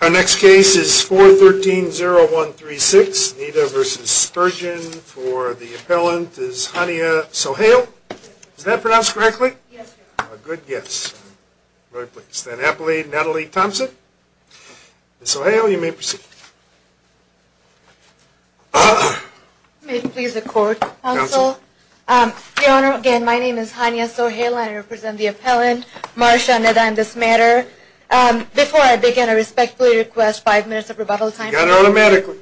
Our next case is 413-0136, Nita v. Spurgeon for the appellant is Hania Sohail. Is that pronounced correctly? Yes, sir. Good guess. Very pleased. Then Appellate Natalie Thompson. Miss Sohail, you may proceed. May it please the court, counsel. Your Honor, again, my name is Hania Sohail. I represent the appellant, Marcia Neda, in this matter. Before I begin, I respectfully request five minutes of rebuttal time. You got it automatically.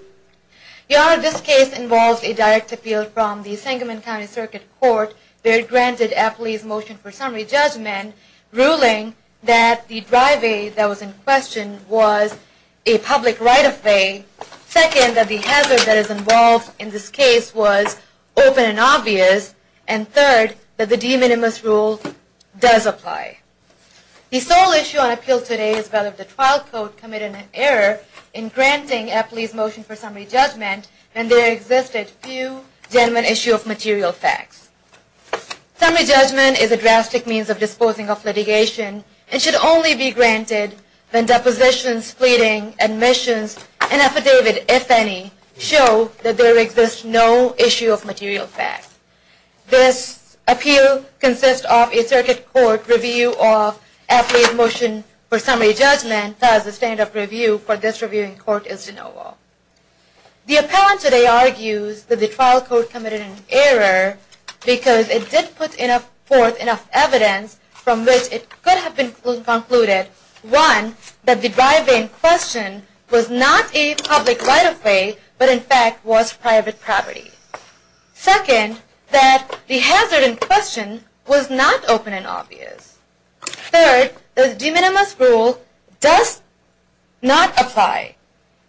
Your Honor, this case involves a direct appeal from the Sangamon County Circuit Court. They granted Appley's motion for summary judgment, ruling that the drive-aid that was in question was a public right-of-way, second, that the hazard that is involved in this case was open and obvious, and third, that the de minimis rule does apply. The sole issue on appeal today is whether the trial court committed an error in granting Appley's motion for summary judgment when there existed few genuine issue of material facts. Summary judgment is a drastic means of disposing of litigation and should only be granted when depositions, fleeting, admissions, and affidavit, if any, show that there exists no issue of material facts. This appeal consists of a circuit court review of Appley's motion for summary judgment, thus the stand-up review for this reviewing court is de novo. The appellant today argues that the trial court committed an error because it did put forth enough evidence from which it could have been concluded, one, that the drive-in question was not a public right-of-way, but in fact was private property. Second, that the hazard in question was not open and obvious. Third, that the de minimis rule does not apply.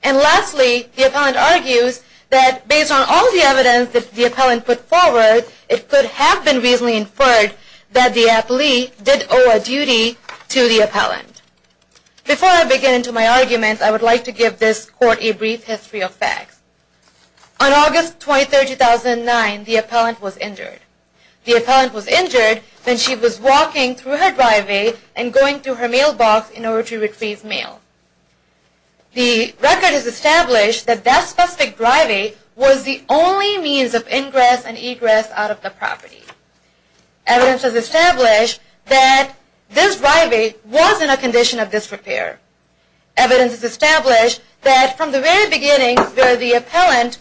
And lastly, the appellant argues that based on all the evidence that the appellant put forward, it could have been reasonably inferred that the Appley did owe a duty to the appellant. Before I begin to my argument, I would like to give this court a brief history of facts. On August 23, 2009, the appellant was injured. The appellant was injured when she was walking through her drive-in and going to her mailbox in order to retrieve mail. The record has established that that specific drive-in was the only means of ingress and egress out of the property. Evidence has established that this drive-in was in a condition of disrepair. Evidence has established that from the very beginning, where the appellant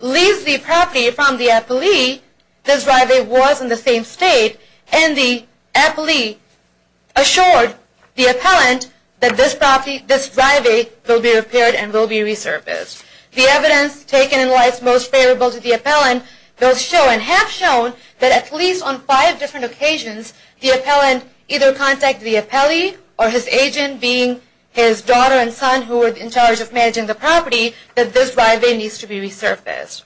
leaves the property from the appellee, this drive-in was in the same state, and the appellee assured the appellant that this drive-in will be repaired and will be resurfaced. The evidence taken in lights most favorable to the appellant will show and have shown that at least on five different occasions, the appellant either contacted the appellee or his agent, being his daughter and son who were in charge of managing the property, that this drive-in needs to be resurfaced.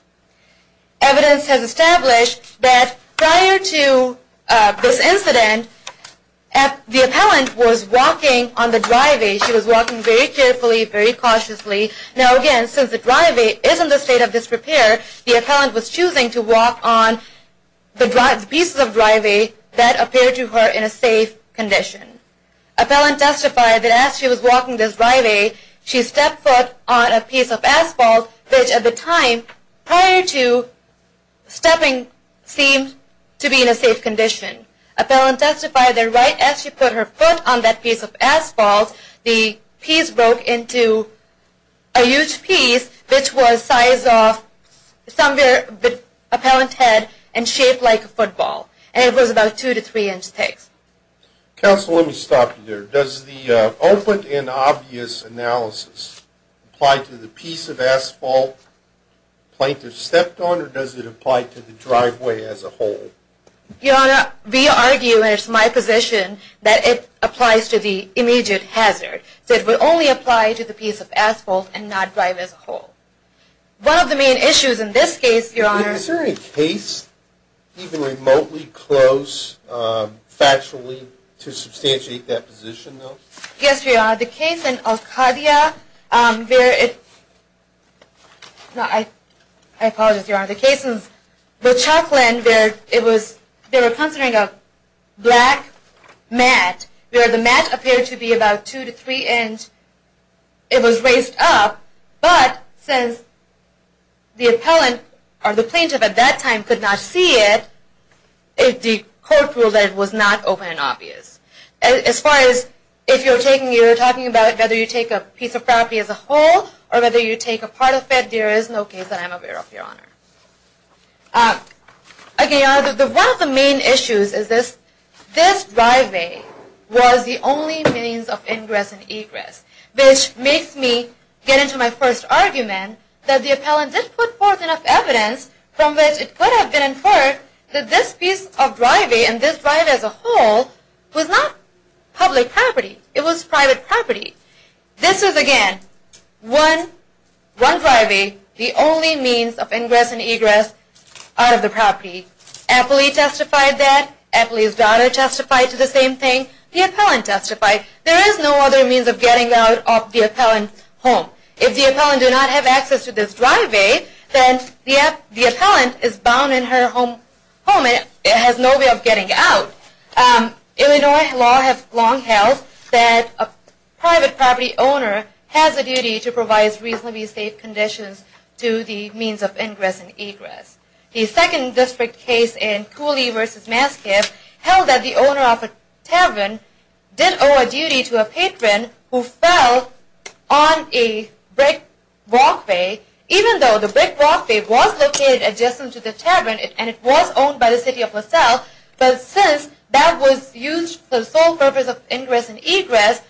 Evidence has established that prior to this incident, the appellant was walking on the drive-in. She was walking very carefully, very cautiously. Now again, since the drive-in is in the state of disrepair, the appellant was choosing to walk on the pieces of drive-in that appeared to her in a safe condition. Appellant testified that as she was walking this drive-in, she stepped foot on a piece of asphalt, which at the time, prior to stepping, seemed to be in a safe condition. Appellant testified that right as she put her foot on that piece of asphalt, the piece broke into a huge piece, which was the size of somewhere the appellant had, and shaped like a football. And it was about two to three inch thick. Counsel, let me stop you there. Does the open and obvious analysis apply to the piece of asphalt the plaintiff stepped on, or does it apply to the driveway as a whole? Your Honor, we argue, and it's my position, that it applies to the immediate hazard. It would only apply to the piece of asphalt and not drive as a whole. One of the main issues in this case, Your Honor... Is there a case even remotely close, factually, to substantiate that position, though? Yes, Your Honor. The case in Alcadia, where it... No, I apologize, Your Honor. The case in the Chuckland, where it was... They were considering a black mat, where the mat appeared to be about two to three inch. It was raised up, but since the appellant, or the plaintiff at that time, could not see it, the court ruled that it was not open and obvious. As far as if you're talking about whether you take a piece of property as a whole, or whether you take a part of it, there is no case that I'm aware of, Your Honor. Again, Your Honor, one of the main issues is this driveway was the only means of ingress and egress. Which makes me get into my first argument that the appellant did put forth enough evidence from which it could have been inferred that this piece of driveway, and this driveway as a whole, was not public property. It was private property. This is, again, one driveway, the only means of ingress and egress out of the property. Appley testified that. Appley's daughter testified to the same thing. The appellant testified. There is no other means of getting out of the appellant's home. If the appellant did not have access to this driveway, then the appellant is bound in her home. It has no way of getting out. Illinois law has long held that a private property owner has a duty to provide reasonably safe conditions to the means of ingress and egress. The second district case in Cooley v. Masciff held that the owner of a tavern did owe a duty to a patron who fell on a brick walkway, even though the brick walkway was located adjacent to the tavern and it was owned by the City of LaSalle. But since that was used for the sole purpose of ingress and egress,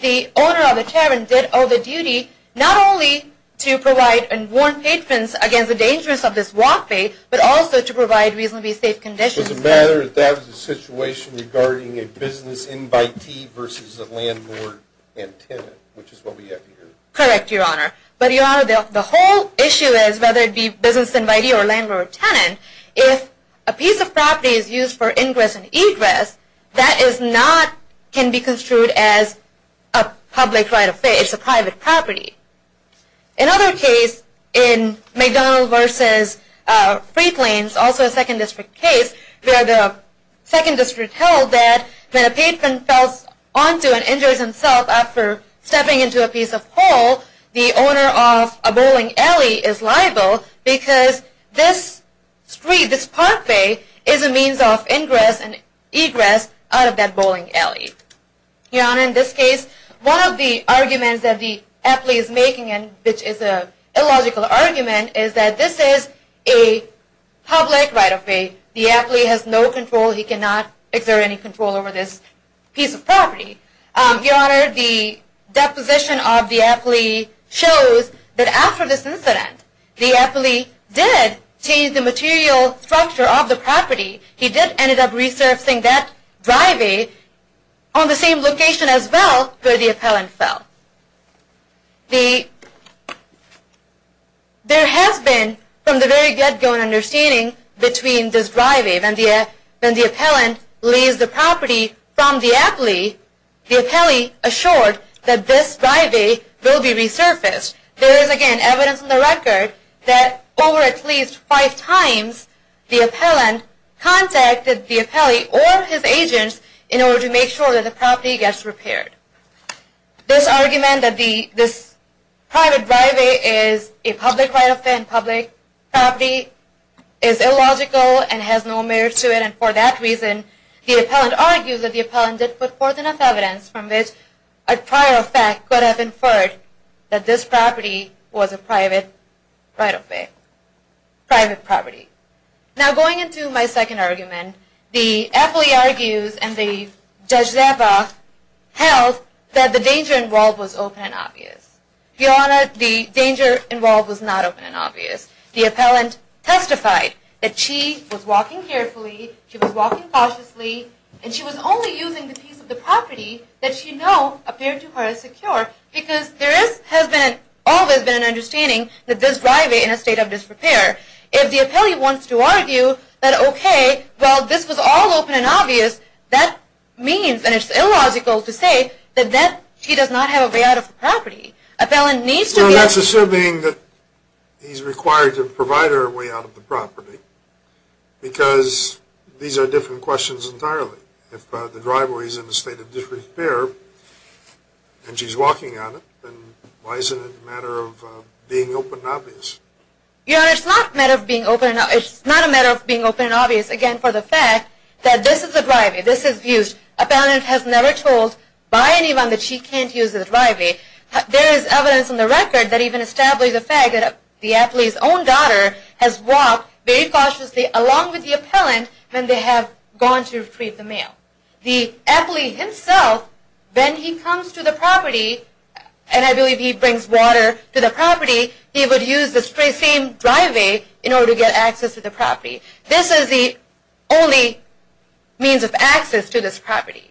the owner of the tavern did owe the duty not only to provide and warn patrons against the dangers of this walkway, but also to provide reasonably safe conditions. So the matter is that was a situation regarding a business invitee versus a landlord and tenant, which is what we have here. Correct, Your Honor. But Your Honor, the whole issue is, whether it be business invitee or landlord or tenant, if a piece of property is used for ingress and egress, that is not, can be construed as a public right of way. It's a private property. Another case in McDonnell v. Freightlanes, also a second district case, where the second district held that when a patron falls onto and injures himself after stepping into a piece of hole, the owner of a bowling alley is liable because this street, this parkway, is a means of ingress and egress out of that bowling alley. Your Honor, in this case, one of the arguments that the appellee is making, which is an illogical argument, is that this is a public right of way. The appellee has no control. He cannot exert any control over this piece of property. Your Honor, the deposition of the appellee shows that after this incident, the appellee did change the material structure of the property. He did end up resurfacing that driveway on the same location as well where the appellant fell. There has been, from the very get-go and understanding, between this driveway, when the appellant leased the property from the appellee, the appellee assured that this driveway will be resurfaced. There is, again, evidence in the record that over at least five times, the appellant contacted the appellee or his agents in order to make sure that the property gets repaired. This argument that this private driveway is a public right of way and public property is illogical and has no merit to it, and for that reason, the appellant argues that the appellant did put forth enough evidence from which a prior effect could have inferred that this property was a private right of way, private property. Now, going into my second argument, the appellee argues and the Judge Zappa held that the danger involved was open and obvious. Your Honor, the danger involved was not open and obvious. The appellant testified that she was walking carefully, she was walking cautiously, and she was only using the piece of the property that she knew appeared to her as secure, because there has always been an understanding that this driveway is in a state of disrepair. If the appellee wants to argue that, okay, well, this was all open and obvious, that means, and it's illogical to say, that she does not have a way out of the property. The appellant needs to be… Your Honor, that's assuming that he's required to provide her a way out of the property, because these are different questions entirely. If the driveway is in a state of disrepair and she's walking on it, then why isn't it a matter of being open and obvious? Your Honor, it's not a matter of being open and obvious, again, for the fact that this is the driveway, this is used. Appellant has never told by anyone that she can't use the driveway. There is evidence on the record that even establishes the fact that the appellee's own daughter has walked very cautiously, along with the appellant, when they have gone to retrieve the mail. The appellee himself, when he comes to the property, and I believe he brings water to the property, he would use the spray-seamed driveway in order to get access to the property. This is the only means of access to this property.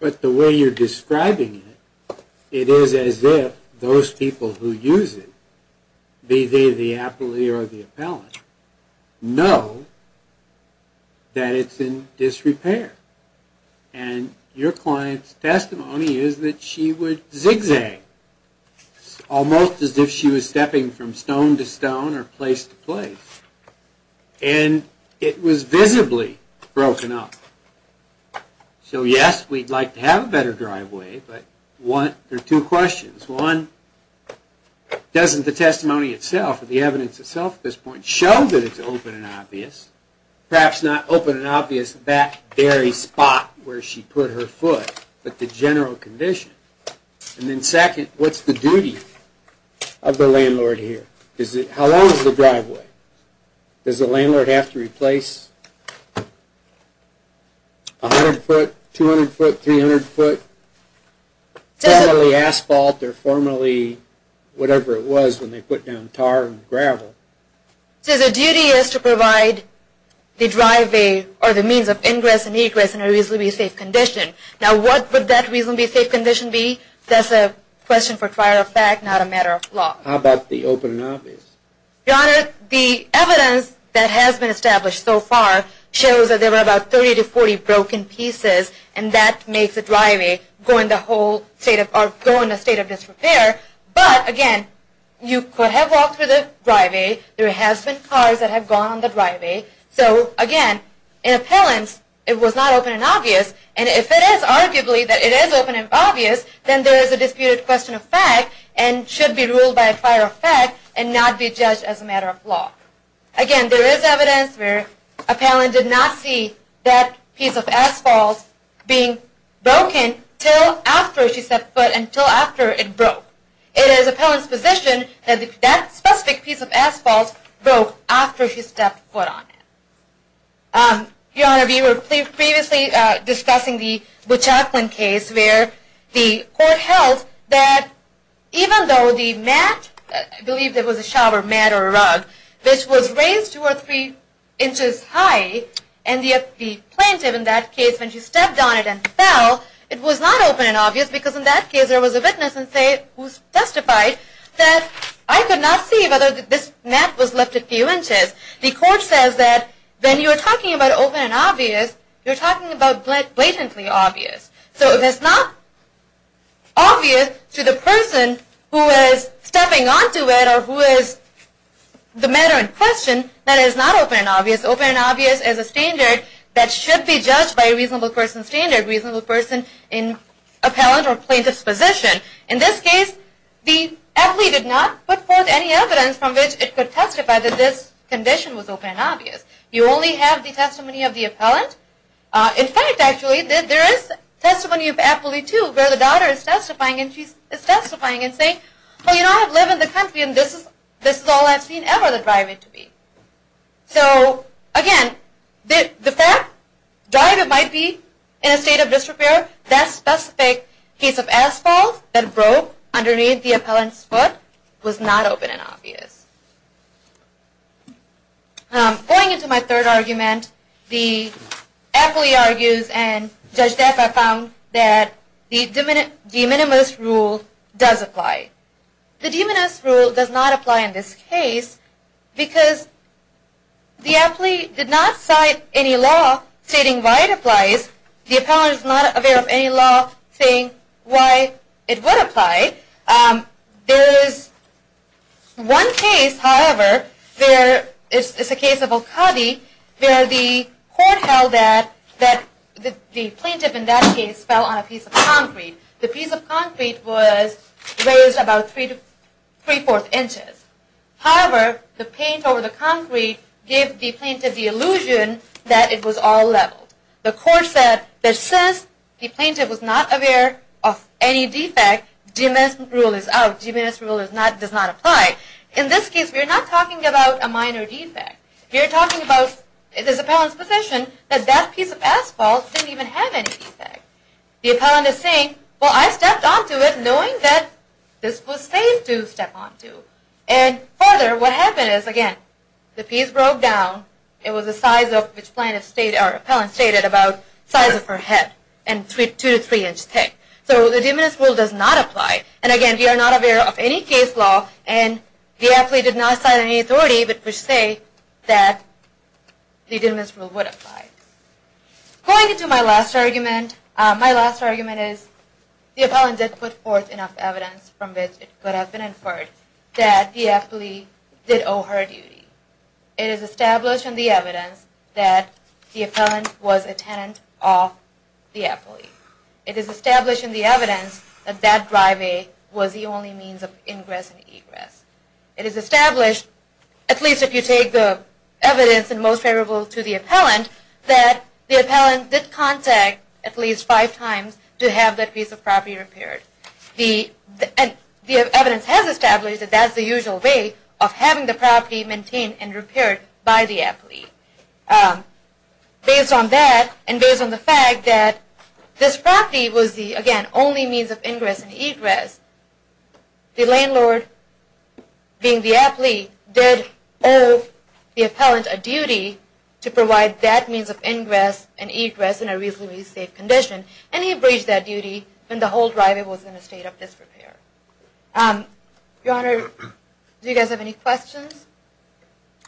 But the way you're describing it, it is as if those people who use it, be they the appellee or the appellant, know that it's in disrepair. And your client's testimony is that she would zigzag, almost as if she was stepping from stone to stone or place to place. And it was visibly broken up. So yes, we'd like to have a better driveway, but there are two questions. One, doesn't the testimony itself, or the evidence itself at this point, show that it's open and obvious? Perhaps not open and obvious in that very spot where she put her foot, but the general condition. And then second, what's the duty of the landlord here? How long is the driveway? Does the landlord have to replace 100 foot, 200 foot, 300 foot, formally asphalt or formally whatever it was when they put down tar and gravel? So the duty is to provide the means of ingress and egress in a reasonably safe condition. Now what would that reasonably safe condition be? That's a question for trial of fact, not a matter of law. How about the open and obvious? Your Honor, the evidence that has been established so far shows that there were about 30 to 40 broken pieces. And that makes the driveway go in a state of disrepair. But again, you could have walked through the driveway. There has been cars that have gone on the driveway. So again, in appellants, it was not open and obvious. And if it is arguably that it is open and obvious, then there is a disputed question of fact and should be ruled by a prior effect and not be judged as a matter of law. Again, there is evidence where appellant did not see that piece of asphalt being broken until after she stepped foot and until after it broke. It is appellant's position that that specific piece of asphalt broke after she stepped foot on it. Your Honor, we were previously discussing the Buchaklin case where the court held that even though the mat, I believe it was a shower mat or a rug, which was raised two or three inches high, and yet the plaintiff in that case, when she stepped on it and fell, it was not open and obvious because in that case there was a witness who testified that I could not see whether this mat was lifted a few inches. The court says that when you are talking about open and obvious, you are talking about blatantly obvious. So if it is not obvious to the person who is stepping onto it or who is the matter in question, that is not open and obvious. Open and obvious is a standard that should be judged by a reasonable person standard, a reasonable person in appellant or plaintiff's position. In this case, the appellee did not put forth any evidence from which it could testify that this condition was open and obvious. You only have the testimony of the appellant. In fact, actually, there is testimony of the appellee, too, where the daughter is testifying and she is testifying and saying, oh, you know, I live in the country and this is all I have seen ever the driver to be. So, again, the fact that the driver might be in a state of disrepair, that specific case of asphalt that broke underneath the appellant's foot was not open and obvious. Going into my third argument, the appellee argues and Judge Depp have found that the de minimis rule does apply. The de minimis rule does not apply in this case because the appellee did not cite any law stating why it applies. The appellant is not aware of any law saying why it would apply. There is one case, however, there is a case of Al-Qadi where the court held that the plaintiff in that case fell on a piece of concrete. The piece of concrete was raised about three-fourths inches. However, the paint over the concrete gave the plaintiff the illusion that it was all leveled. The court said that since the plaintiff was not aware of any defect, de minimis rule is out. De minimis rule does not apply. In this case, we are not talking about a minor defect. We are talking about this appellant's position that that piece of asphalt didn't even have any defect. The appellant is saying, well, I stepped onto it knowing that this was safe to step onto. And further, what happened is, again, the piece broke down. It was the size of which the appellant stated about the size of her head and two to three inches thick. So, the de minimis rule does not apply. And again, we are not aware of any case law and the appellee did not cite any authority but per se that the de minimis rule would apply. Going into my last argument. My last argument is the appellant did put forth enough evidence from which it could have been inferred that the appellee did owe her a duty. It is established in the evidence that the appellant was a tenant of the appellee. It is established in the evidence that that driveway was the only means of ingress and egress. It is established, at least if you take the evidence and most favorable to the appellant, that the appellant did contact at least five times to have that piece of property repaired. The evidence has established that that's the usual way of having the property maintained and repaired by the appellee. Based on that and based on the fact that this property was the, again, only means of ingress and egress, the landlord, being the appellee, did owe the appellant a duty to provide that means of ingress and egress in a reasonably safe condition. And he abridged that duty when the whole driveway was in a state of disrepair. Your Honor, do you guys have any questions?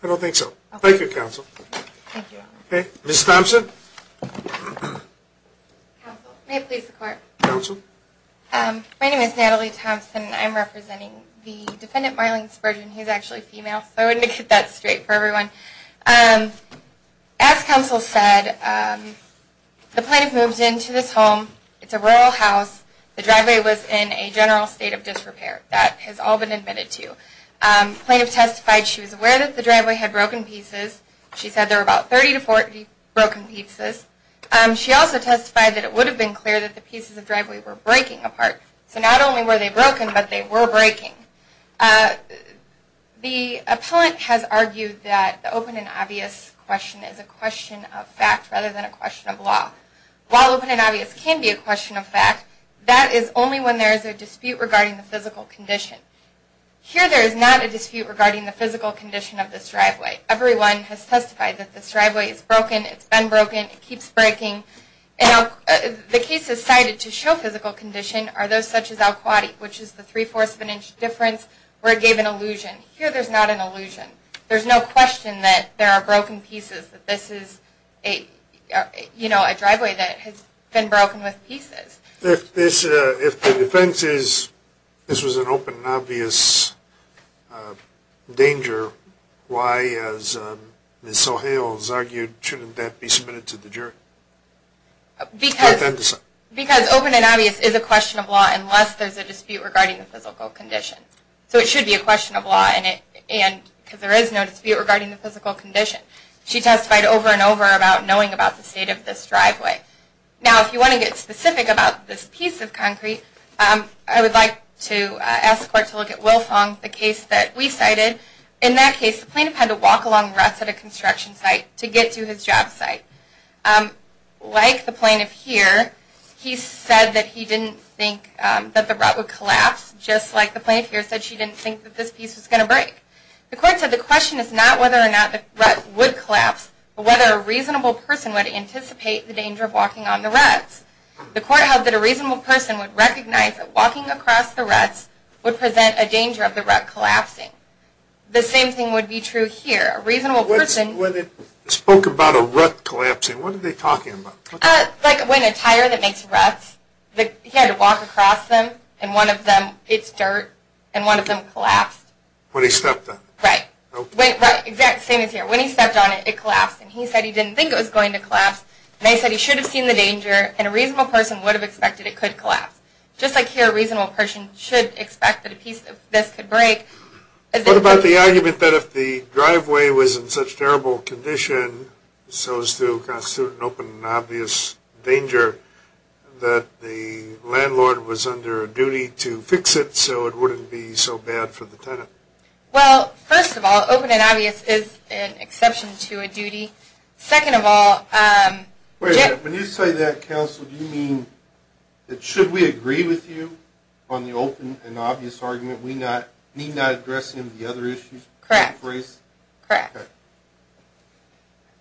I don't think so. Thank you, Counsel. Thank you, Your Honor. Okay, Ms. Thompson. Counsel, may it please the Court. Counsel. Thank you. My name is Natalie Thompson and I'm representing the defendant, Marlene Spurgeon. He's actually female, so I wanted to get that straight for everyone. As Counsel said, the plaintiff moved into this home. It's a rural house. The driveway was in a general state of disrepair. That has all been admitted to. The plaintiff testified she was aware that the driveway had broken pieces. She said there were about 30 to 40 broken pieces. She also testified that it would have been clear that the pieces of driveway were breaking apart. So not only were they broken, but they were breaking. The appellant has argued that the open and obvious question is a question of fact rather than a question of law. While open and obvious can be a question of fact, that is only when there is a dispute regarding the physical condition. Here there is not a dispute regarding the physical condition of this driveway. Everyone has testified that this driveway is broken. It's been broken. It keeps breaking. The cases cited to show physical condition are those such as Al-Khwati, which is the 3-4ths of an inch difference, where it gave an illusion. Here there's not an illusion. There's no question that there are broken pieces, that this is a driveway that has been broken with pieces. If the defense is this was an open and obvious danger, why, as Ms. O'Hale has argued, shouldn't that be submitted to the jury? Because open and obvious is a question of law unless there's a dispute regarding the physical condition. So it should be a question of law because there is no dispute regarding the physical condition. She testified over and over about knowing about the state of this driveway. Now, if you want to get specific about this piece of concrete, I would like to ask the court to look at Will Fong, the case that we cited. In that case, the plaintiff had to walk along the ruts at a construction site to get to his job site. Like the plaintiff here, he said that he didn't think that the rut would collapse, just like the plaintiff here said she didn't think that this piece was going to break. The court said the question is not whether or not the rut would collapse, but whether a reasonable person would anticipate the danger of walking on the ruts. The court held that a reasonable person would recognize that walking across the ruts would present a danger of the rut collapsing. The same thing would be true here. A reasonable person... When they spoke about a rut collapsing, what were they talking about? Like when a tire that makes ruts, he had to walk across them, and one of them, it's dirt, and one of them collapsed. When he stepped on it. Right. Same as here. When he stepped on it, it collapsed, and he said he didn't think it was going to collapse. They said he should have seen the danger, and a reasonable person would have expected it could collapse. Just like here, a reasonable person should expect that a piece of this could break. What about the argument that if the driveway was in such terrible condition, so as to constitute an open and obvious danger, that the landlord was under a duty to fix it so it wouldn't be so bad for the tenant? Well, first of all, open and obvious is an exception to a duty. Second of all... Wait a minute. When you say that, counsel, do you mean that should we agree with you on the open and obvious argument, we need not address any of the other issues? Correct. Correct.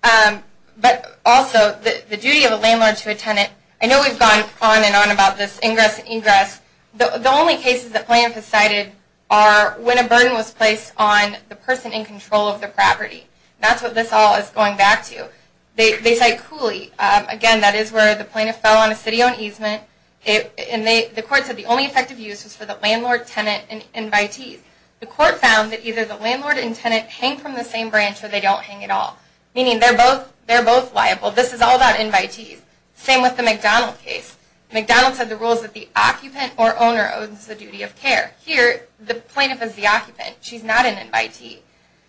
Okay. But also, the duty of a landlord to a tenant, I know we've gone on and on about this ingress and ingress. The only cases that plaintiffs cited are when a burden was placed on the person in control of the property. That's what this all is going back to. They cite Cooley. Again, that is where the plaintiff fell on a city-owned easement, and the court said the only effective use was for the landlord, tenant, and invitees. The court found that either the landlord and tenant hang from the same branch or they don't hang at all, meaning they're both liable. This is all about invitees. Same with the McDonald case. McDonald said the rules that the occupant or owner owns the duty of care. Here, the plaintiff is the occupant. She's not an invitee.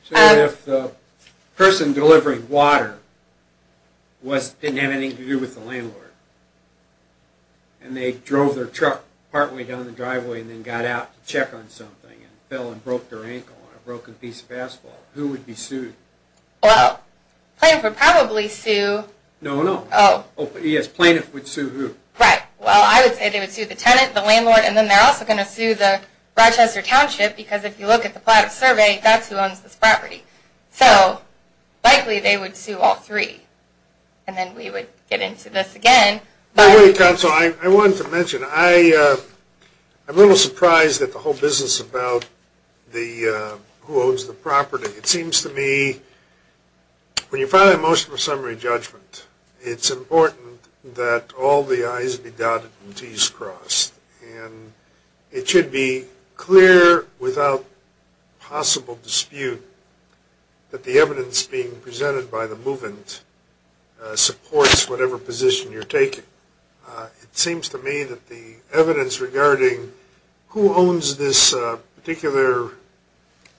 So if the person delivering water didn't have anything to do with the landlord and they drove their truck partway down the driveway and then got out to check on something and fell and broke their ankle on a broken piece of asphalt, who would be sued? Well, plaintiff would probably sue... No, no. Oh. Yes, plaintiff would sue who? Right. Well, I would say they would sue the tenant, the landlord, and then they're also going to sue the Rochester Township, because if you look at the PLATA survey, that's who owns this property. So likely they would sue all three. And then we would get into this again. Wait a minute, counsel. I wanted to mention, I'm a little surprised at the whole business about who owns the property. It seems to me when you file a motion for summary judgment, it's important that all the I's be dotted and T's crossed. And it should be clear without possible dispute that the evidence being presented by the movant supports whatever position you're taking. It seems to me that the evidence regarding who owns this particular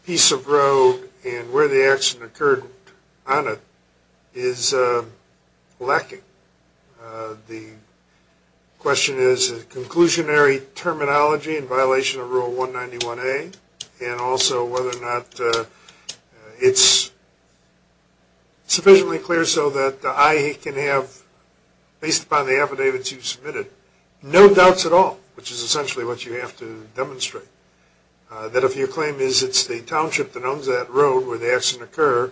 piece of road and where the accident occurred on it is lacking. The question is, is it conclusionary terminology in violation of Rule 191A, and also whether or not it's sufficiently clear so that the I can have, based upon the affidavits you've submitted, no doubts at all, which is essentially what you have to demonstrate. That if your claim is it's the township that owns that road where the accident occurred,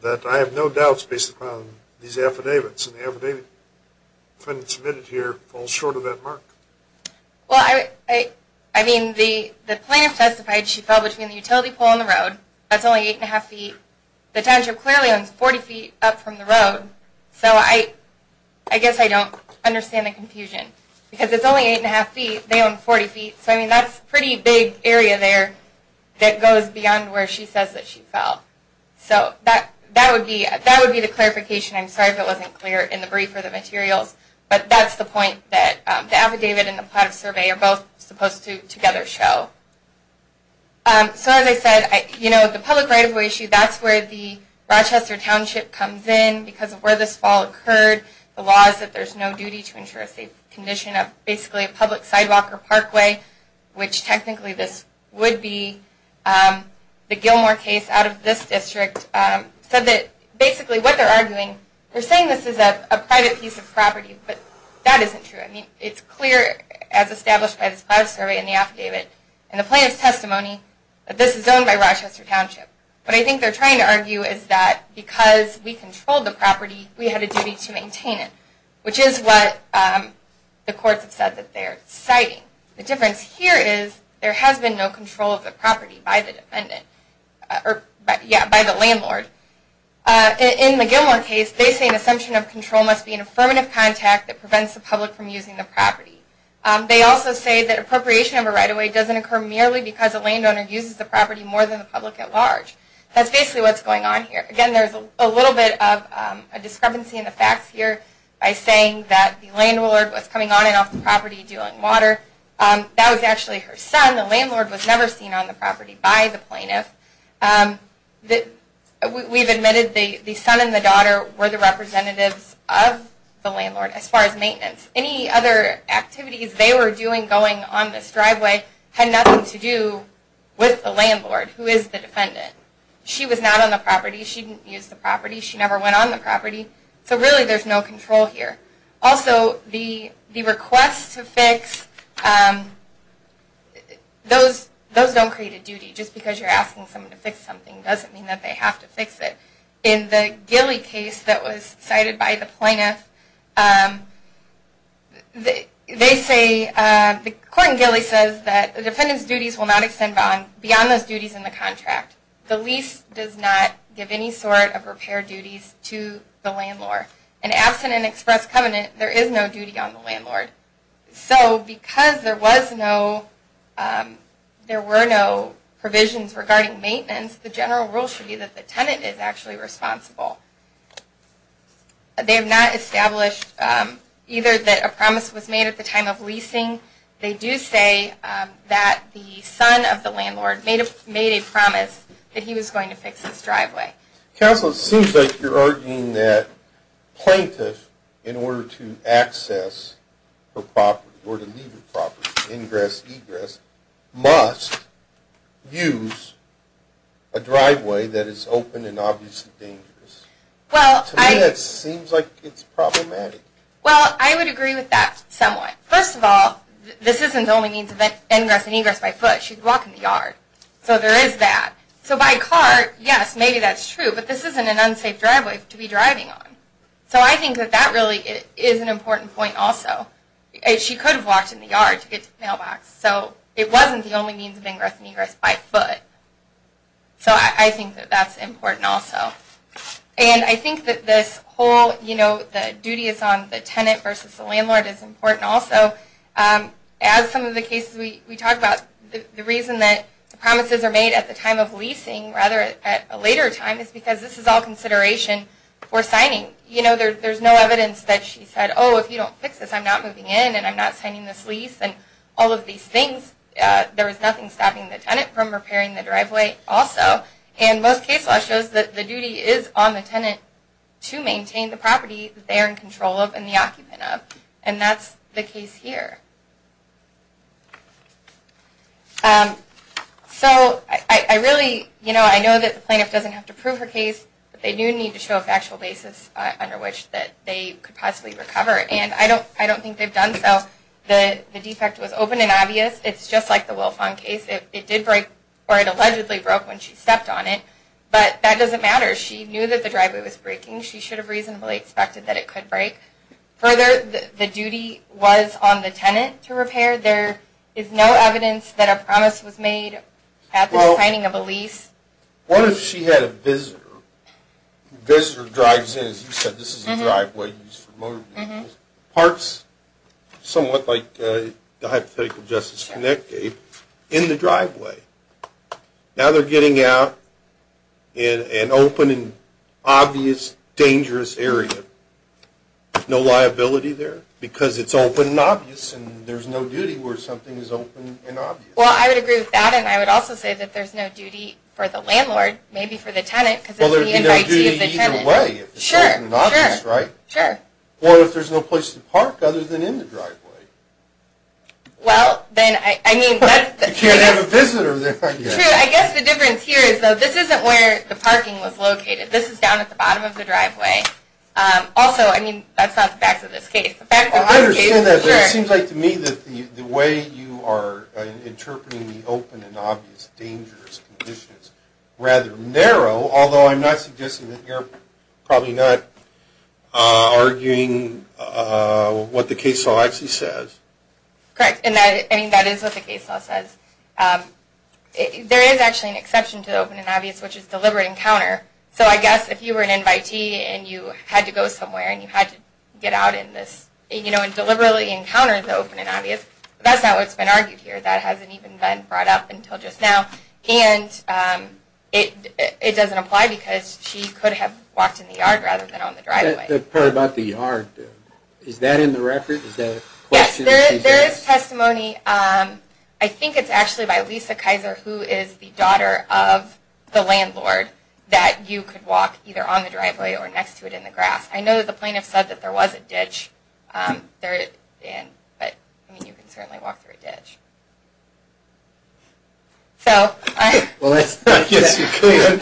that I have no doubts based upon these affidavits. And the affidavit submitted here falls short of that mark. Well, I mean, the plaintiff testified she fell between the utility pole and the road. That's only eight and a half feet. The township clearly owns 40 feet up from the road. So I guess I don't understand the confusion. Because it's only eight and a half feet. They own 40 feet. So, I mean, that's a pretty big area there that goes beyond where she says that she fell. So that would be the clarification. I'm sorry if it wasn't clear in the brief or the materials. But that's the point that the affidavit and the plaintiff's survey are both supposed to together show. So as I said, you know, the public right of way issue, that's where the Rochester township comes in because of where this fall occurred. The law is that there's no duty to ensure a safe condition of basically a public sidewalk or parkway, which technically this would be. The Gilmore case out of this district said that basically what they're arguing, they're saying this is a private piece of property. But that isn't true. I mean, it's clear as established by the supply of survey and the affidavit and the plaintiff's testimony that this is owned by Rochester township. What I think they're trying to argue is that because we controlled the property, we had a duty to maintain it, which is what the courts have said that they're citing. The difference here is there has been no control of the property by the defendant or by the landlord. In the Gilmore case, they say an assumption of control must be an affirmative contact that prevents the public from using the property. They also say that appropriation of a right of way doesn't occur merely because a landowner uses the property more than the public at large. That's basically what's going on here. Again, there's a little bit of a discrepancy in the facts here by saying that the landlord was coming on and off the property doing water. That was actually her son. The landlord was never seen on the property by the plaintiff. We've admitted the son and the daughter were the representatives of the landlord as far as maintenance. Any other activities they were doing going on this driveway had nothing to do with the landlord, who is the defendant. She was not on the property. She didn't use the property. She never went on the property. So really there's no control here. Also, the requests to fix, those don't create a duty. Just because you're asking someone to fix something doesn't mean that they have to fix it. In the Gilley case that was cited by the plaintiff, they say, the court in Gilley says that the defendant's duties will not extend beyond those duties in the contract. The lease does not give any sort of repair duties to the landlord. And absent an express covenant, there is no duty on the landlord. So because there was no, there were no provisions regarding maintenance, the general rule should be that the tenant is actually responsible. They have not established either that a promise was made at the time of leasing. They do say that the son of the landlord made a promise that he was going to fix this driveway. Counsel, it seems like you're arguing that plaintiffs, in order to access the property or to leave the property, ingress, egress, must use a driveway that is open and obviously dangerous. To me that seems like it's problematic. Well, I would agree with that somewhat. First of all, this isn't the only means of ingress and egress by foot. She could walk in the yard. So there is that. So by car, yes, maybe that's true. But this isn't an unsafe driveway to be driving on. So I think that that really is an important point also. She could have walked in the yard to get to the mailbox. So it wasn't the only means of ingress and egress by foot. So I think that that's important also. And I think that this whole, you know, the duty is on the tenant versus the landlord is important also. As some of the cases we talked about, the reason that promises are made at the time of leasing, rather at a later time, is because this is all consideration for signing. You know, there's no evidence that she said, oh, if you don't fix this, I'm not moving in and I'm not signing this lease and all of these things. There is nothing stopping the tenant from repairing the driveway also. And most case law shows that the duty is on the tenant to maintain the property they're in control of and the occupant of. And that's the case here. So I really, you know, I know that the plaintiff doesn't have to prove her case, but they do need to show a factual basis under which that they could possibly recover. And I don't think they've done so. The defect was open and obvious. It's just like the Wilfon case. It did break or it allegedly broke when she stepped on it. But that doesn't matter. She knew that the driveway was breaking. She should have reasonably expected that it could break. Further, the duty was on the tenant to repair. There is no evidence that a promise was made at the signing of a lease. What if she had a visitor? The visitor drives in, as you said, this is the driveway used for motor vehicles. Parks, somewhat like the hypothetical Justice Connect gave, in the driveway. Now they're getting out in an open and obvious, dangerous area. No liability there because it's open and obvious Well, I would agree with that, and I would also say that there's no duty for the landlord, maybe for the tenant. Well, there would be no duty either way. Sure. It's open and obvious, right? Sure. What if there's no place to park other than in the driveway? Well, then, I mean, that's the thing. You can't have a visitor there. True. I guess the difference here is that this isn't where the parking was located. This is down at the bottom of the driveway. Also, I mean, that's not the facts of this case. I understand that, but it seems like to me that the way you are interpreting the open and obvious, dangerous conditions rather narrow, although I'm not suggesting that you're probably not arguing what the case law actually says. Correct, and that is what the case law says. There is actually an exception to the open and obvious, which is deliberate encounter. So I guess if you were an invitee and you had to go somewhere and you had to get out in this, you know, and deliberately encounter the open and obvious, that's not what's been argued here. That hasn't even been brought up until just now. And it doesn't apply because she could have walked in the yard rather than on the driveway. The part about the yard, is that in the record? Is that a question? Yes, there is testimony. I think it's actually by Lisa Kaiser, who is the daughter of the landlord, that you could walk either on the driveway or next to it in the grass. I know the plaintiff said that there was a ditch, but I mean, you can certainly walk through a ditch. Well, I guess you could.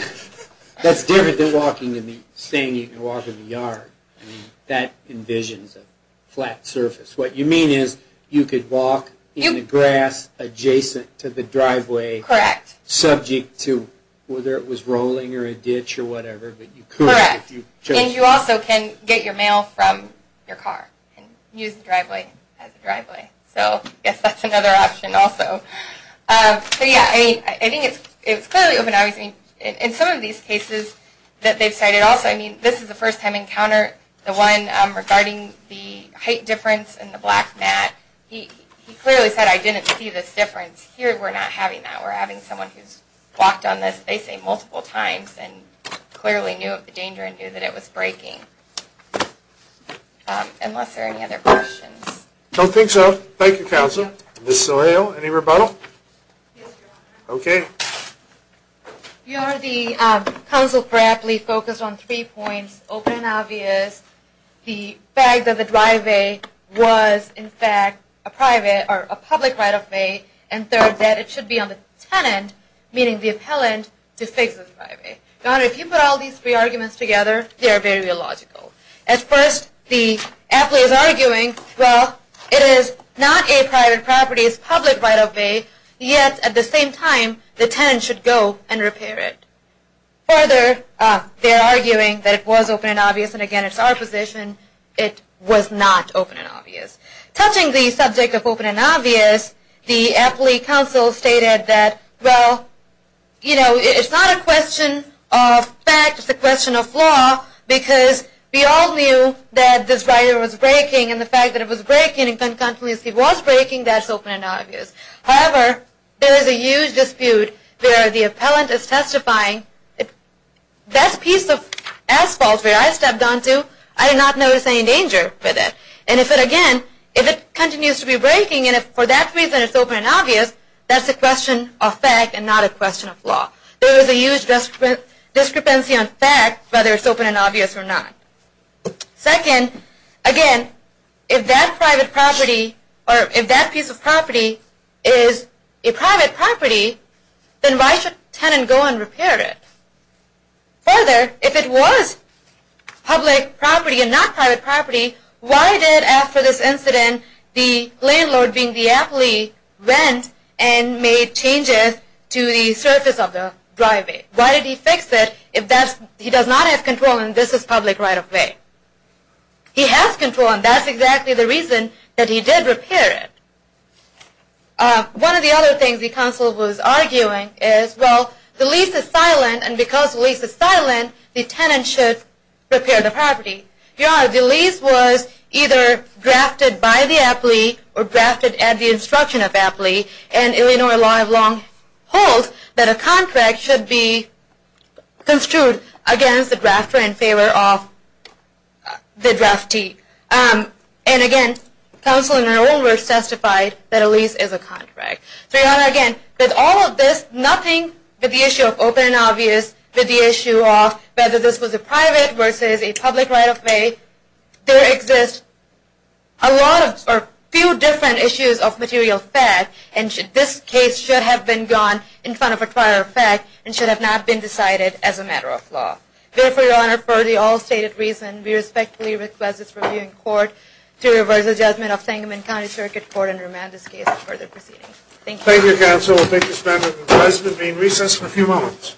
That's different than saying you can walk in the yard. I mean, that envisions a flat surface. What you mean is you could walk in the grass adjacent to the driveway. Correct. Subject to whether it was rolling or a ditch or whatever. Correct. And you also can get your mail from your car and use the driveway as a driveway. So I guess that's another option also. But yeah, I think it's clearly open and obvious. In some of these cases that they've cited also, I mean, this is a first-time encounter. The one regarding the height difference in the black mat, he clearly said, I didn't see this difference. Here, we're not having that. We're having someone who's walked on this, they say, multiple times and clearly knew of the danger and knew that it was breaking. Unless there are any other questions. Don't think so. Thank you, Counsel. Ms. Sohail, any rebuttal? Yes, Your Honor. Okay. Your Honor, the counsel correctly focused on three points, open and obvious, the fact that the driveway was, in fact, a public right-of-way, and third, that it should be on the tenant, meaning the appellant, to fix the driveway. Your Honor, if you put all these three arguments together, they are very illogical. At first, the appellant is arguing, well, it is not a private property, it is public right-of-way, yet at the same time, the tenant should go and repair it. Further, they are arguing that it was open and obvious, and again, it's our position, it was not open and obvious. Touching the subject of open and obvious, the appellate counsel stated that, well, you know, it's not a question of fact, it's a question of flaw, because we all knew that this right-of-way was breaking, and the fact that it was breaking, and if it was breaking, that's open and obvious. However, there is a huge dispute where the appellant is testifying, that piece of asphalt where I stepped onto, I did not notice any danger with it. And if it, again, if it continues to be breaking, and if for that reason it's open and obvious, that's a question of fact and not a question of flaw. There is a huge discrepancy on fact, whether it's open and obvious or not. Second, again, if that private property, or if that piece of property is a private property, then why should the tenant go and repair it? Further, if it was public property and not private property, why did, after this incident, the landlord, being the appellee, rent and made changes to the surface of the right-of-way? Why did he fix it if he does not have control and this is public right-of-way? He has control, and that's exactly the reason that he did repair it. One of the other things the counsel was arguing is, well, the lease is silent, and because the lease is silent, the tenant should repair the property. The lease was either drafted by the appellee or drafted at the instruction of the appellee, and Illinois law of long hold that a contract should be construed against the drafter in favor of the draftee. And, again, counsel, in their own words, testified that a lease is a contract. So, Your Honor, again, with all of this, nothing with the issue of open and obvious, with the issue of whether this was a private versus a public right-of-way, there exist a lot of, or a few different issues of material fact, and this case should have been gone in front of a prior fact and should have not been decided as a matter of law. Therefore, Your Honor, for the all-stated reason, we respectfully request this reviewing court to reverse the judgment of Sangamon County Circuit Court and remand this case for further proceedings. Thank you. Thank you, counsel. We'll take this matter to the President. We'll recess for a few moments.